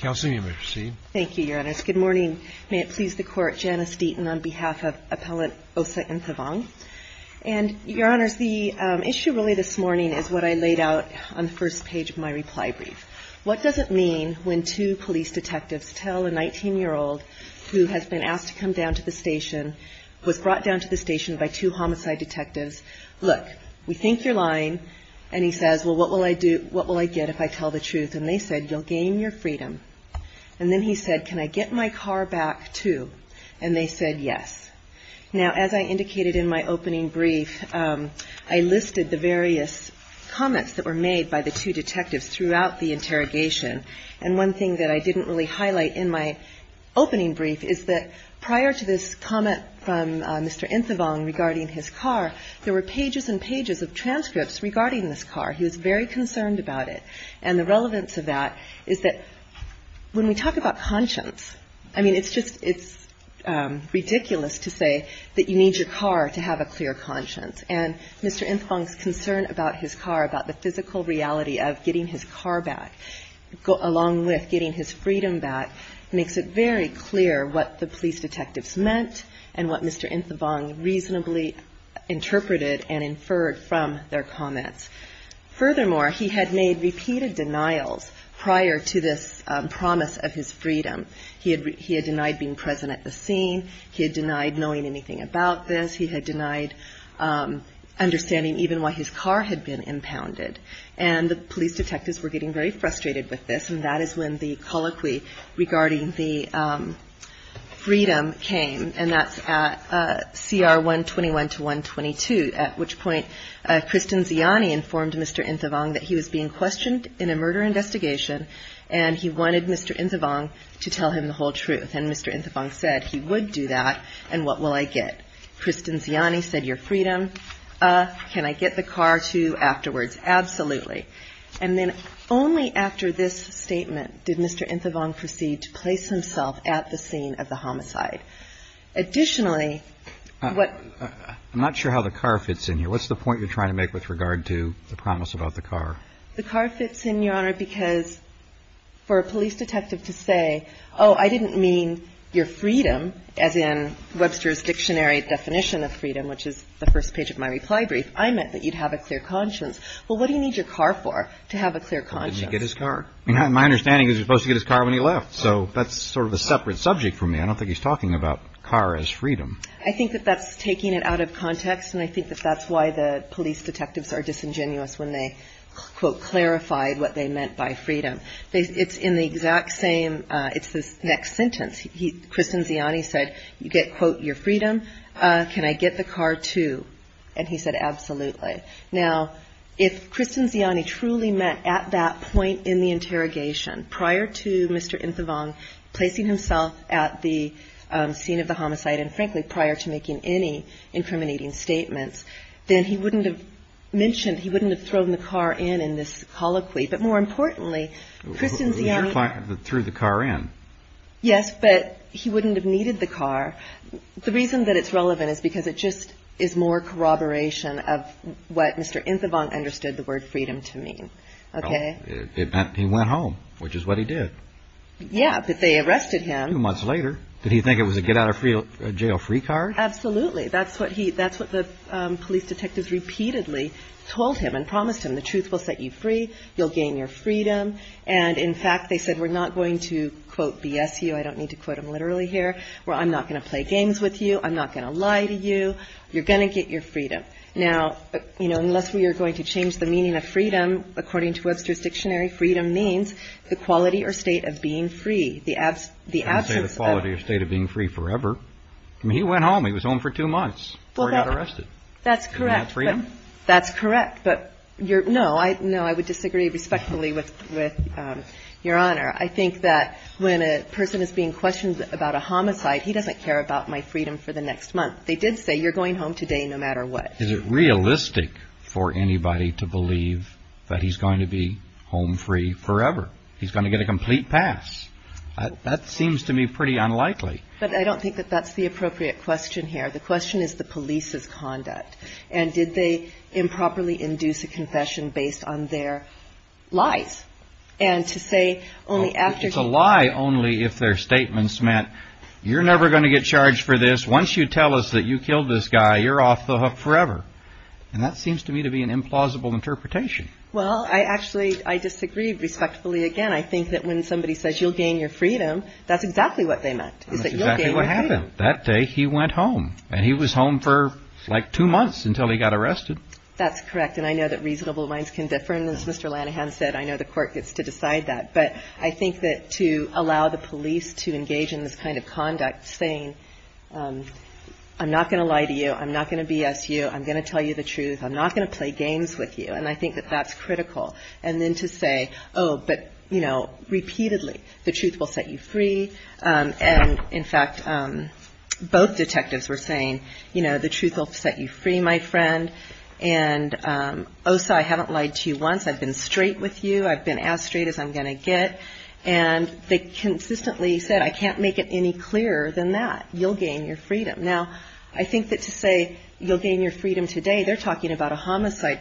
Good morning. May it please the Court, Janice Deaton on behalf of Appellant Osa Inthavong. And Your Honors, the issue really this morning is what I laid out on the first page of my reply brief. What does it mean when two police detectives tell a 19-year-old who has been asked to come down to the station, was brought down to the station by two homicide detectives, look, we think you're lying, and he says, well, what will I do, what will I get if I say, you'll gain your freedom? And then he said, can I get my car back too? And they said yes. Now, as I indicated in my opening brief, I listed the various comments that were made by the two detectives throughout the interrogation. And one thing that I didn't really highlight in my opening brief is that prior to this comment from Mr. Inthavong regarding his car, there were pages and pages of transcripts regarding this car. He was very concerned about it. And the relevance of that is that when we talk about conscience, I mean, it's just, it's ridiculous to say that you need your car to have a clear conscience. And Mr. Inthavong's concern about his car, about the physical reality of getting his car back, along with getting his freedom back, makes it very clear what the police detectives meant and what Mr. Inthavong reasonably interpreted and inferred from their comments. Furthermore, he had made repeated denials prior to this promise of his freedom. He had denied being present at the scene. He had denied knowing anything about this. He had denied understanding even why his car had been impounded. And the police detectives were getting very frustrated with this. And that is when the colloquy regarding the freedom came, and that's at CR 121 to 122, at which point Kristen Ziani informed Mr. Inthavong that he was being questioned in a murder investigation, and he wanted Mr. Inthavong to tell him the whole truth. And Mr. Inthavong said he would do that, and what will I get? Kristen Ziani said your freedom. Can I get the car too afterwards? Absolutely. And then only after this statement did Mr. Inthavong proceed to place himself at the scene of the homicide. Additionally, what... I'm not sure how the car fits in here. What's the point you're trying to make with regard to the promise about the car? The car fits in, Your Honor, because for a police detective to say, oh, I didn't mean your freedom, as in Webster's dictionary definition of freedom, which is the first page of my reply brief, I meant that you'd have a clear conscience. Well, what do you need your car for to have a clear conscience? Well, didn't he get his car? I mean, my understanding is he was supposed to get his car when he left, so that's sort of a separate subject for me. I don't think he's talking about car as freedom. I think that that's taking it out of context, and I think that that's why the police detectives are disingenuous when they, quote, clarified what they meant by freedom. It's in the exact same... It's this next sentence. Kristen Ziani said, you get, quote, your freedom. Can I get the car too? And he said, absolutely. Now, if Kristen Ziani truly meant at that point in the interrogation prior to Mr. Inthavong placing himself at the scene of the homicide, and frankly, prior to making any incriminating statements, then he wouldn't have mentioned, he wouldn't have thrown the car in in this colloquy. But more importantly, Kristen Ziani... He threw the car in. Yes, but he wouldn't have needed the car. The reason that it's relevant is because it just is more corroboration of what Mr. Inthavong understood the word freedom to mean. Okay? It meant he went home, which is what he did. Yeah, but they arrested him. Two months later. Did he think it was a get out of jail free car? Absolutely. That's what the police detectives repeatedly told him and promised him. The truth will set you free. You'll gain your freedom. And in fact, they said, we're not going to, quote, BS you. I don't need to quote him literally here. I'm not going to play games with you. I'm not going to lie to you. You're going to get your freedom. Now, you know, unless we are going to change the meaning of freedom, according to Webster's Dictionary, freedom means the quality or state of being free. The absence of... I wouldn't say the quality or state of being free forever. I mean, he went home. He was home for two months before he got arrested. Isn't that freedom? That's correct. But no, I would disagree respectfully with your Honor. I think that when a person is being questioned about a homicide, he doesn't care about my freedom for the next month. They did say, you're going home today no matter what. Is it realistic for anybody to believe that he's going to be home free forever? He's going to get a complete pass. That seems to me pretty unlikely. But I don't think that that's the appropriate question here. The question is the police's conduct. And did they improperly induce a confession based on their lies? And to say only after... It's a lie only if their statements meant, you're never going to get charged for this. Once you tell us that you killed this guy, you're off the hook forever. And that seems to me to be an implausible interpretation. Well, I actually, I disagree respectfully. Again, I think that when somebody says, you'll gain your freedom, that's exactly what they meant. That's exactly what happened. That day he went home and he was home for like two months until he got arrested. That's correct. And I know that reasonable minds can differ. And as Mr. Lanahan said, I know the court gets to decide that. But I think that to allow the police to engage in this kind of conduct saying, I'm not going to lie to you. I'm not going to BS you. I'm going to tell you the truth. I'm not going to play games with you. And I think that that's critical. And then to say, oh, but repeatedly, the truth will set you free. And in fact, both detectives were saying, the truth will set you free, my friend. And Osa, I haven't lied to you once. I've been straight with you. I've been as straight as I'm going to get. And they consistently said, I can't make it any clearer than that. You'll gain your freedom. Now, I think that to say, you'll gain your freedom today, they're talking about a homicide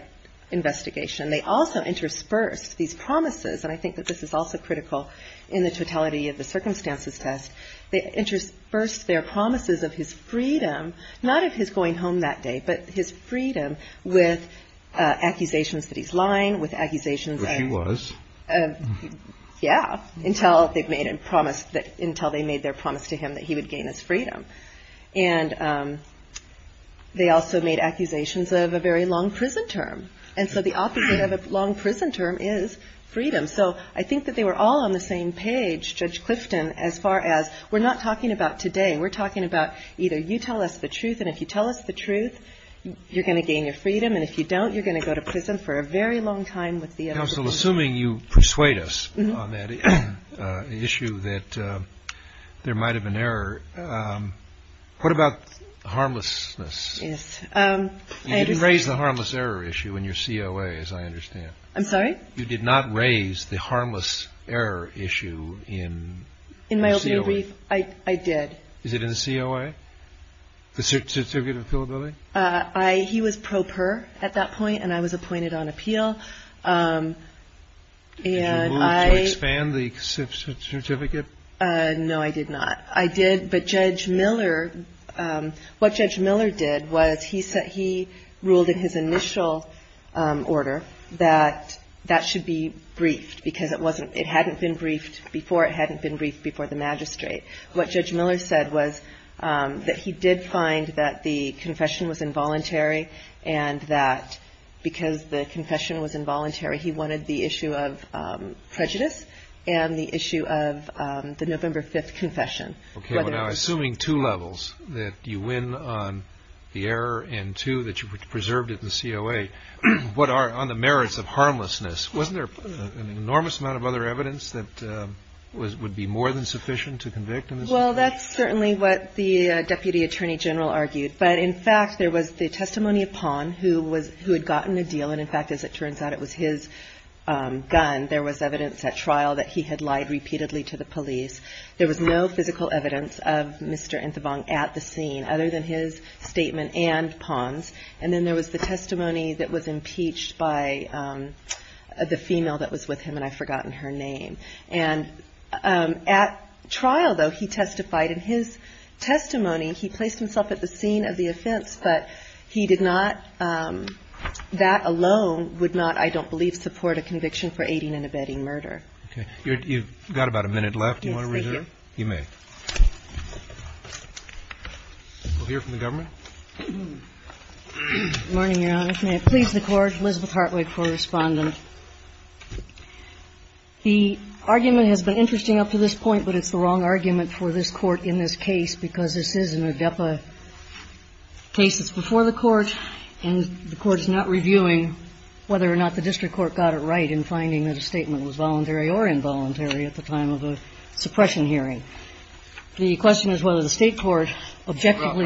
investigation. They also interspersed these promises. And I think that this is also critical in the totality of the circumstances test. They interspersed their promises of his freedom, not of his going home that day, but his freedom with accusations that he's lying, with accusations that he was. Yeah, until they've made a promise that until they made their promise to him that he would gain his freedom. And they also made accusations of a very long prison term. And so the opposite of a long prison term is freedom. So I think that they were all on the same page. Judge Clifton, as far as we're not talking about today, we're talking about either you tell us the truth. And if you tell us the truth, you're going to gain your freedom. And if you don't, you're going to go to prison for a very long time with the council. Assuming you persuade us on that issue, that there might have been error. What about harmlessness? You didn't raise the harmless error issue in your COA, as I understand. I'm sorry. You did not raise the harmless error issue in my opinion. I did. Is it in the COA? The certificate of appealability? I he was pro per at that point, and I was Did you move to expand the certificate? No, I did not. I did. But Judge Miller, what Judge Miller did was he said he ruled in his initial order that that should be briefed because it wasn't it hadn't been briefed before. It hadn't been briefed before the magistrate. What Judge Miller said was that he did find that the confession was involuntary and that because the confession was involuntary, he wanted the issue of prejudice and the issue of the November 5th confession. Assuming two levels, that you win on the error and two that you preserved it in the COA, on the merits of harmlessness, wasn't there an enormous amount of other evidence that would be more than sufficient to convict? Well, that's certainly what the Deputy Attorney General argued. But in fact, there was the testimony of Pond who had gotten a deal. And in fact, as it turns out, it was his gun. There was evidence at trial that he had lied repeatedly to the police. There was no physical evidence of Mr. Nthibong at the scene other than his statement and Pond's. And then there was the testimony that was impeached by the female that was with him, and I've forgotten her name. And at trial, though, he testified in his testimony, he placed himself at the scene of the offense. But he did not – that alone would not, I don't believe, support a conviction for aiding and abetting murder. Okay. You've got about a minute left. Do you want to resume? Yes, thank you. You may. We'll hear from the government. Good morning, Your Honor. May it please the Court. Elizabeth Hartwig, co-respondent. The argument has been interesting up to this point, but it's the wrong argument for this Court in this case because this is an ADEPA case that's before the Court, and the Court is not reviewing whether or not the district court got it right in finding that a statement was voluntary or involuntary at the time of a suppression hearing. The question is whether the State court objectively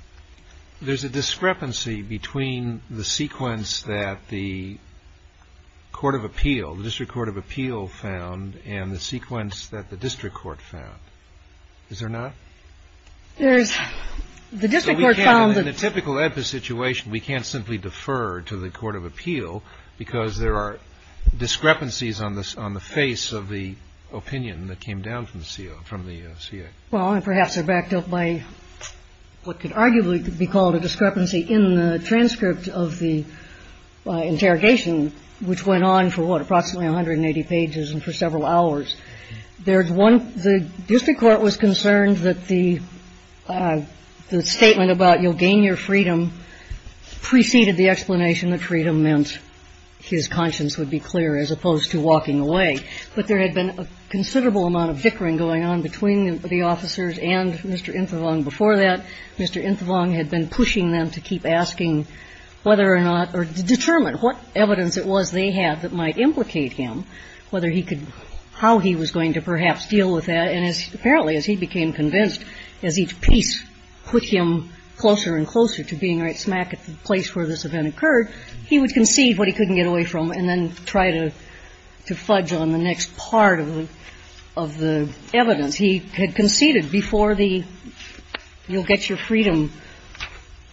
– There's a discrepancy between the sequence that the Court of Appeal, the District Court of Appeal found and the sequence that the district court found. Is there not? There's – the district court found that – In a typical ADEPA situation, we can't simply defer to the Court of Appeal because there are discrepancies on the face of the opinion that came down from the CA. Well, and perhaps they're backed up by what could arguably be called a discrepancy in the transcript of the interrogation, which went on for, what, approximately 180 pages and for several hours. There's one – the district court was concerned that the statement about you'll gain your freedom preceded the explanation that freedom meant his conscience would be clear as opposed to walking away. But there had been a considerable amount of bickering going on between the officers and Mr. Infovong before that. Mr. Infovong had been pushing them to keep asking whether or not – or to determine what evidence it was they had that might implicate him, whether he could – how he was going to perhaps deal with that. And as – apparently, as he became convinced, as each piece put him closer and closer to being right smack at the place where this event occurred, he would concede what he couldn't get away from and then try to fudge on the next part of the evidence. He had conceded before the you'll get your freedom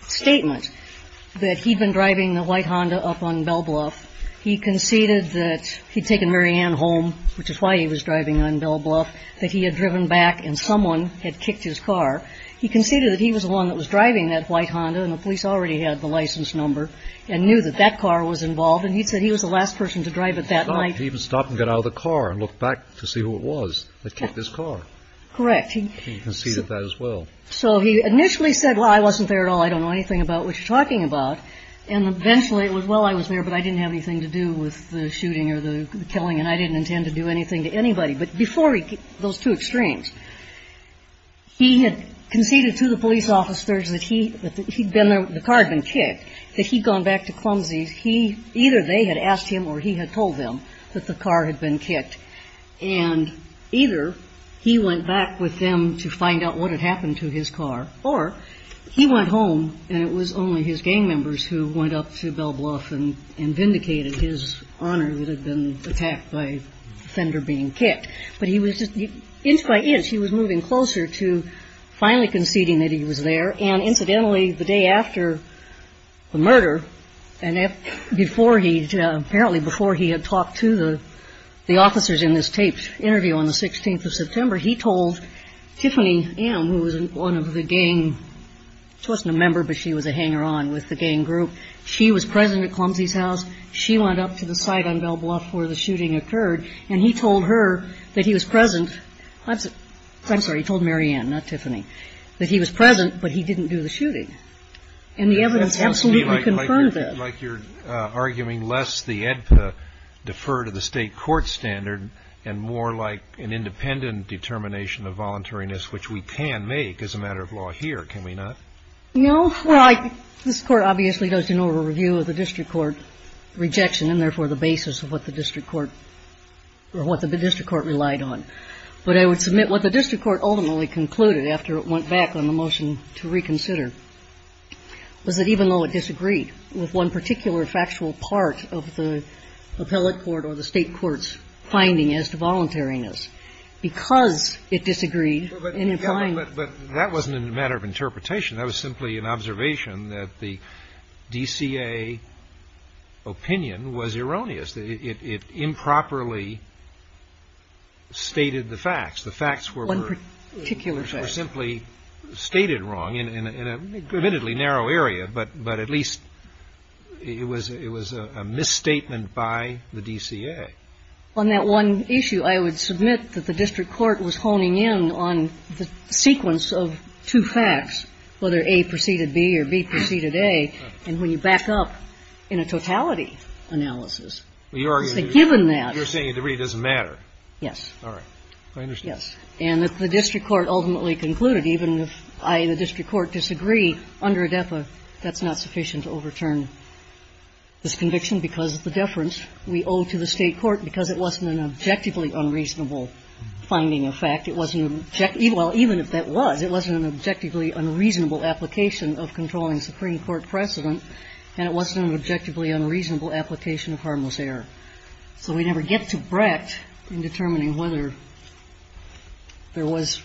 statement that he'd been driving the white Honda up on Belle Bluff. He conceded that he'd taken Mary Ann home, which is why he was driving on Belle Bluff, that he had driven back and someone had kicked his car. He conceded that he was the one that was driving that white Honda, and the police already had the license number, and knew that that car was involved, and he said he was the last person to drive it that night. He even stopped and got out of the car and looked back to see who it was that kicked his car. Correct. He conceded that as well. So he initially said, well, I wasn't there at all. I don't know anything about what you're talking about. And eventually it was, well, I was there, but I didn't have anything to do with the shooting or the killing, and I didn't intend to do anything to anybody. But before he – those two extremes, he had conceded to the police officers that he – that he'd been there – the car had been kicked, that he'd gone back to Clumsy's. He – either they had asked him or he had told them that the car had been kicked. And either he went back with them to find out what had happened to his car, or he went home and it was only his gang members who went up to Belle Bluff and vindicated his honor that had been attacked by the offender being kicked. But he was just – inch by inch, he was moving closer to finally conceding that he was there. And incidentally, the day after the murder, and before he – apparently before he had talked to the officers in this taped interview on the 16th of September, he told Tiffany M., who was one of the gang – she wasn't a member, but she was a hanger on with the gang group – she was present at Clumsy's house. She went up to the site on Belle Bluff where the shooting occurred. And he told her that he was present – I'm sorry, he told Marianne, not Tiffany – that he was present, but he didn't do the shooting. And the evidence absolutely confirmed that. It seems to me like you're arguing, lest the AEDPA defer to the state court standard and more like an independent determination of voluntariness, which we can make as a matter of law here, can we not? No. Well, I – this court obviously does an over-review of the district court rejection, and therefore the basis of what the district court – or what the district court relied on. But I would submit what the district court ultimately concluded after it went back on the motion to reconsider was that even though it disagreed with one particular factual part of the appellate court or the state court's finding as to voluntariness, because it disagreed in implying – Well, but that wasn't a matter of interpretation. That was simply an observation that the DCA opinion was erroneous. It improperly stated the facts. The facts were – One particular fact. Were simply stated wrong in a admittedly narrow area, but at least it was a misstatement by the DCA. On that one issue, I would submit that the district court was honing in on the sequence of two facts, whether A preceded B or B preceded A. And when you back up in a totality analysis, given that – You're saying it really doesn't matter. Yes. All right. I understand. Yes. And if the district court ultimately concluded, even if I in the district court disagree under ADEPA, that's not sufficient to overturn this conviction because of the deference we owe to the state court because it wasn't an objectively unreasonable finding of fact. It wasn't – well, even if that was, it wasn't an objectively unreasonable application of controlling Supreme Court precedent, and it wasn't an objectively unreasonable application of harmless error. So we never get to Brecht in determining whether there was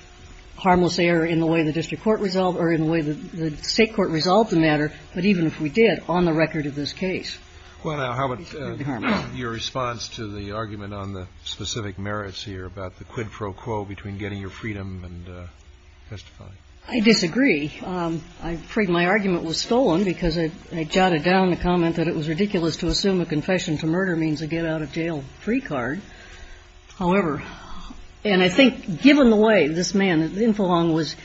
harmless error in the way the district court resolved or in the way the state court resolved the matter. But even if we did, on the record of this case, it would be harmless. Well, now, how about your response to the argument on the specific merits here about the quid pro quo between getting your freedom and testifying? I disagree. I'm afraid my argument was stolen because I jotted down the comment that it was ridiculous to assume a confession to murder means a get-out-of-jail-free card. However, and I think given the way this man, Infolong, was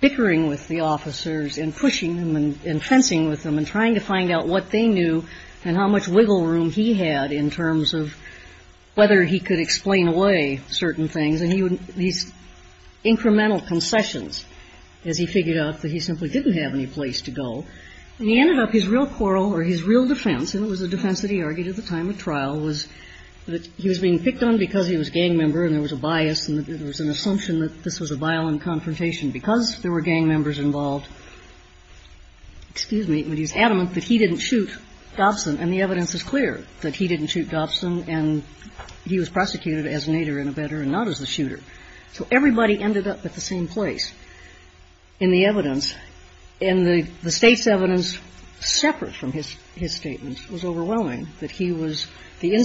bickering with the officers and pushing them and fencing with them and trying to find out what they knew and how much wiggle room he had in terms of whether he could explain away certain things. And he would – these incremental concessions as he figured out that he simply didn't have any place to go. And he ended up – his real quarrel or his real defense, and it was a defense that he was being picked on because he was a gang member and there was a bias and there was an assumption that this was a violent confrontation because there were gang members involved. Excuse me. But he's adamant that he didn't shoot Dobson, and the evidence is clear that he didn't shoot Dobson and he was prosecuted as an aider and abetter and not as the shooter. So everybody ended up at the same place in the evidence. And the State's evidence separate from his statement was overwhelming, that he was the man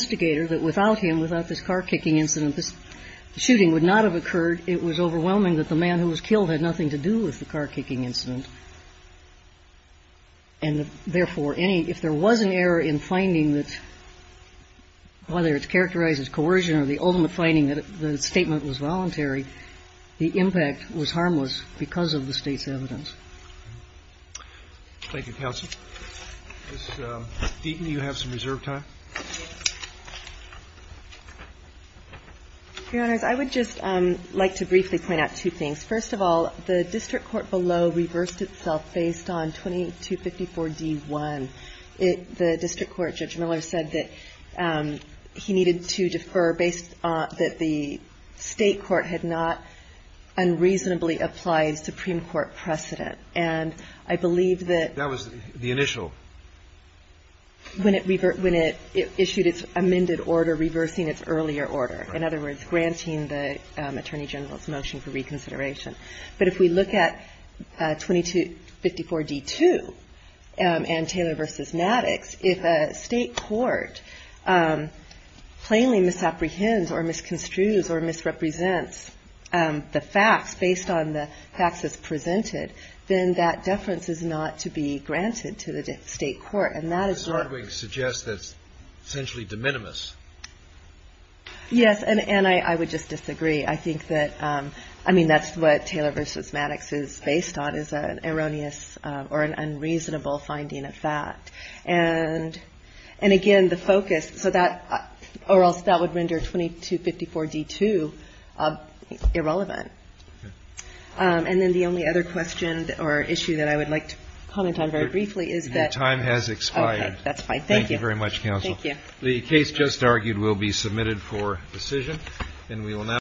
who was killed, and he had nothing to do with the car-kicking incident. And therefore, any – if there was an error in finding that – whether it's characterized as coercion or the ultimate finding that the statement was voluntary, the impact was harmless because of the State's evidence. Thank you, counsel. Ms. Deaton, you have some reserve time. Your Honors, I would just like to briefly point out two things. First of all, the district court below reversed itself based on 2254d-1. It – the district court, Judge Miller, said that he needed to defer based on – that the State court had not unreasonably applied Supreme Court precedent. And I believe that – That was the initial. When it – when it issued its amended order reversing its earlier order. In other words, granting the Attorney General's motion for reconsideration. But if we look at 2254d-2 and Taylor v. Maddox, if a State court plainly misapprehends or misconstrues or misrepresents the facts based on the facts as presented, then that is a misapprehension of the State court. And that is – Ms. Hardwig suggests that's essentially de minimis. Yes, and I would just disagree. I think that – I mean, that's what Taylor v. Maddox is based on, is an erroneous or an unreasonable finding of fact. And again, the focus – so that – or else that would render 2254d-2 irrelevant. And then the only other question or issue that I would like to comment on very briefly is that – Your time has expired. Okay. That's fine. Thank you. Thank you very much, Counsel. Thank you. The case just argued will be submitted for decision.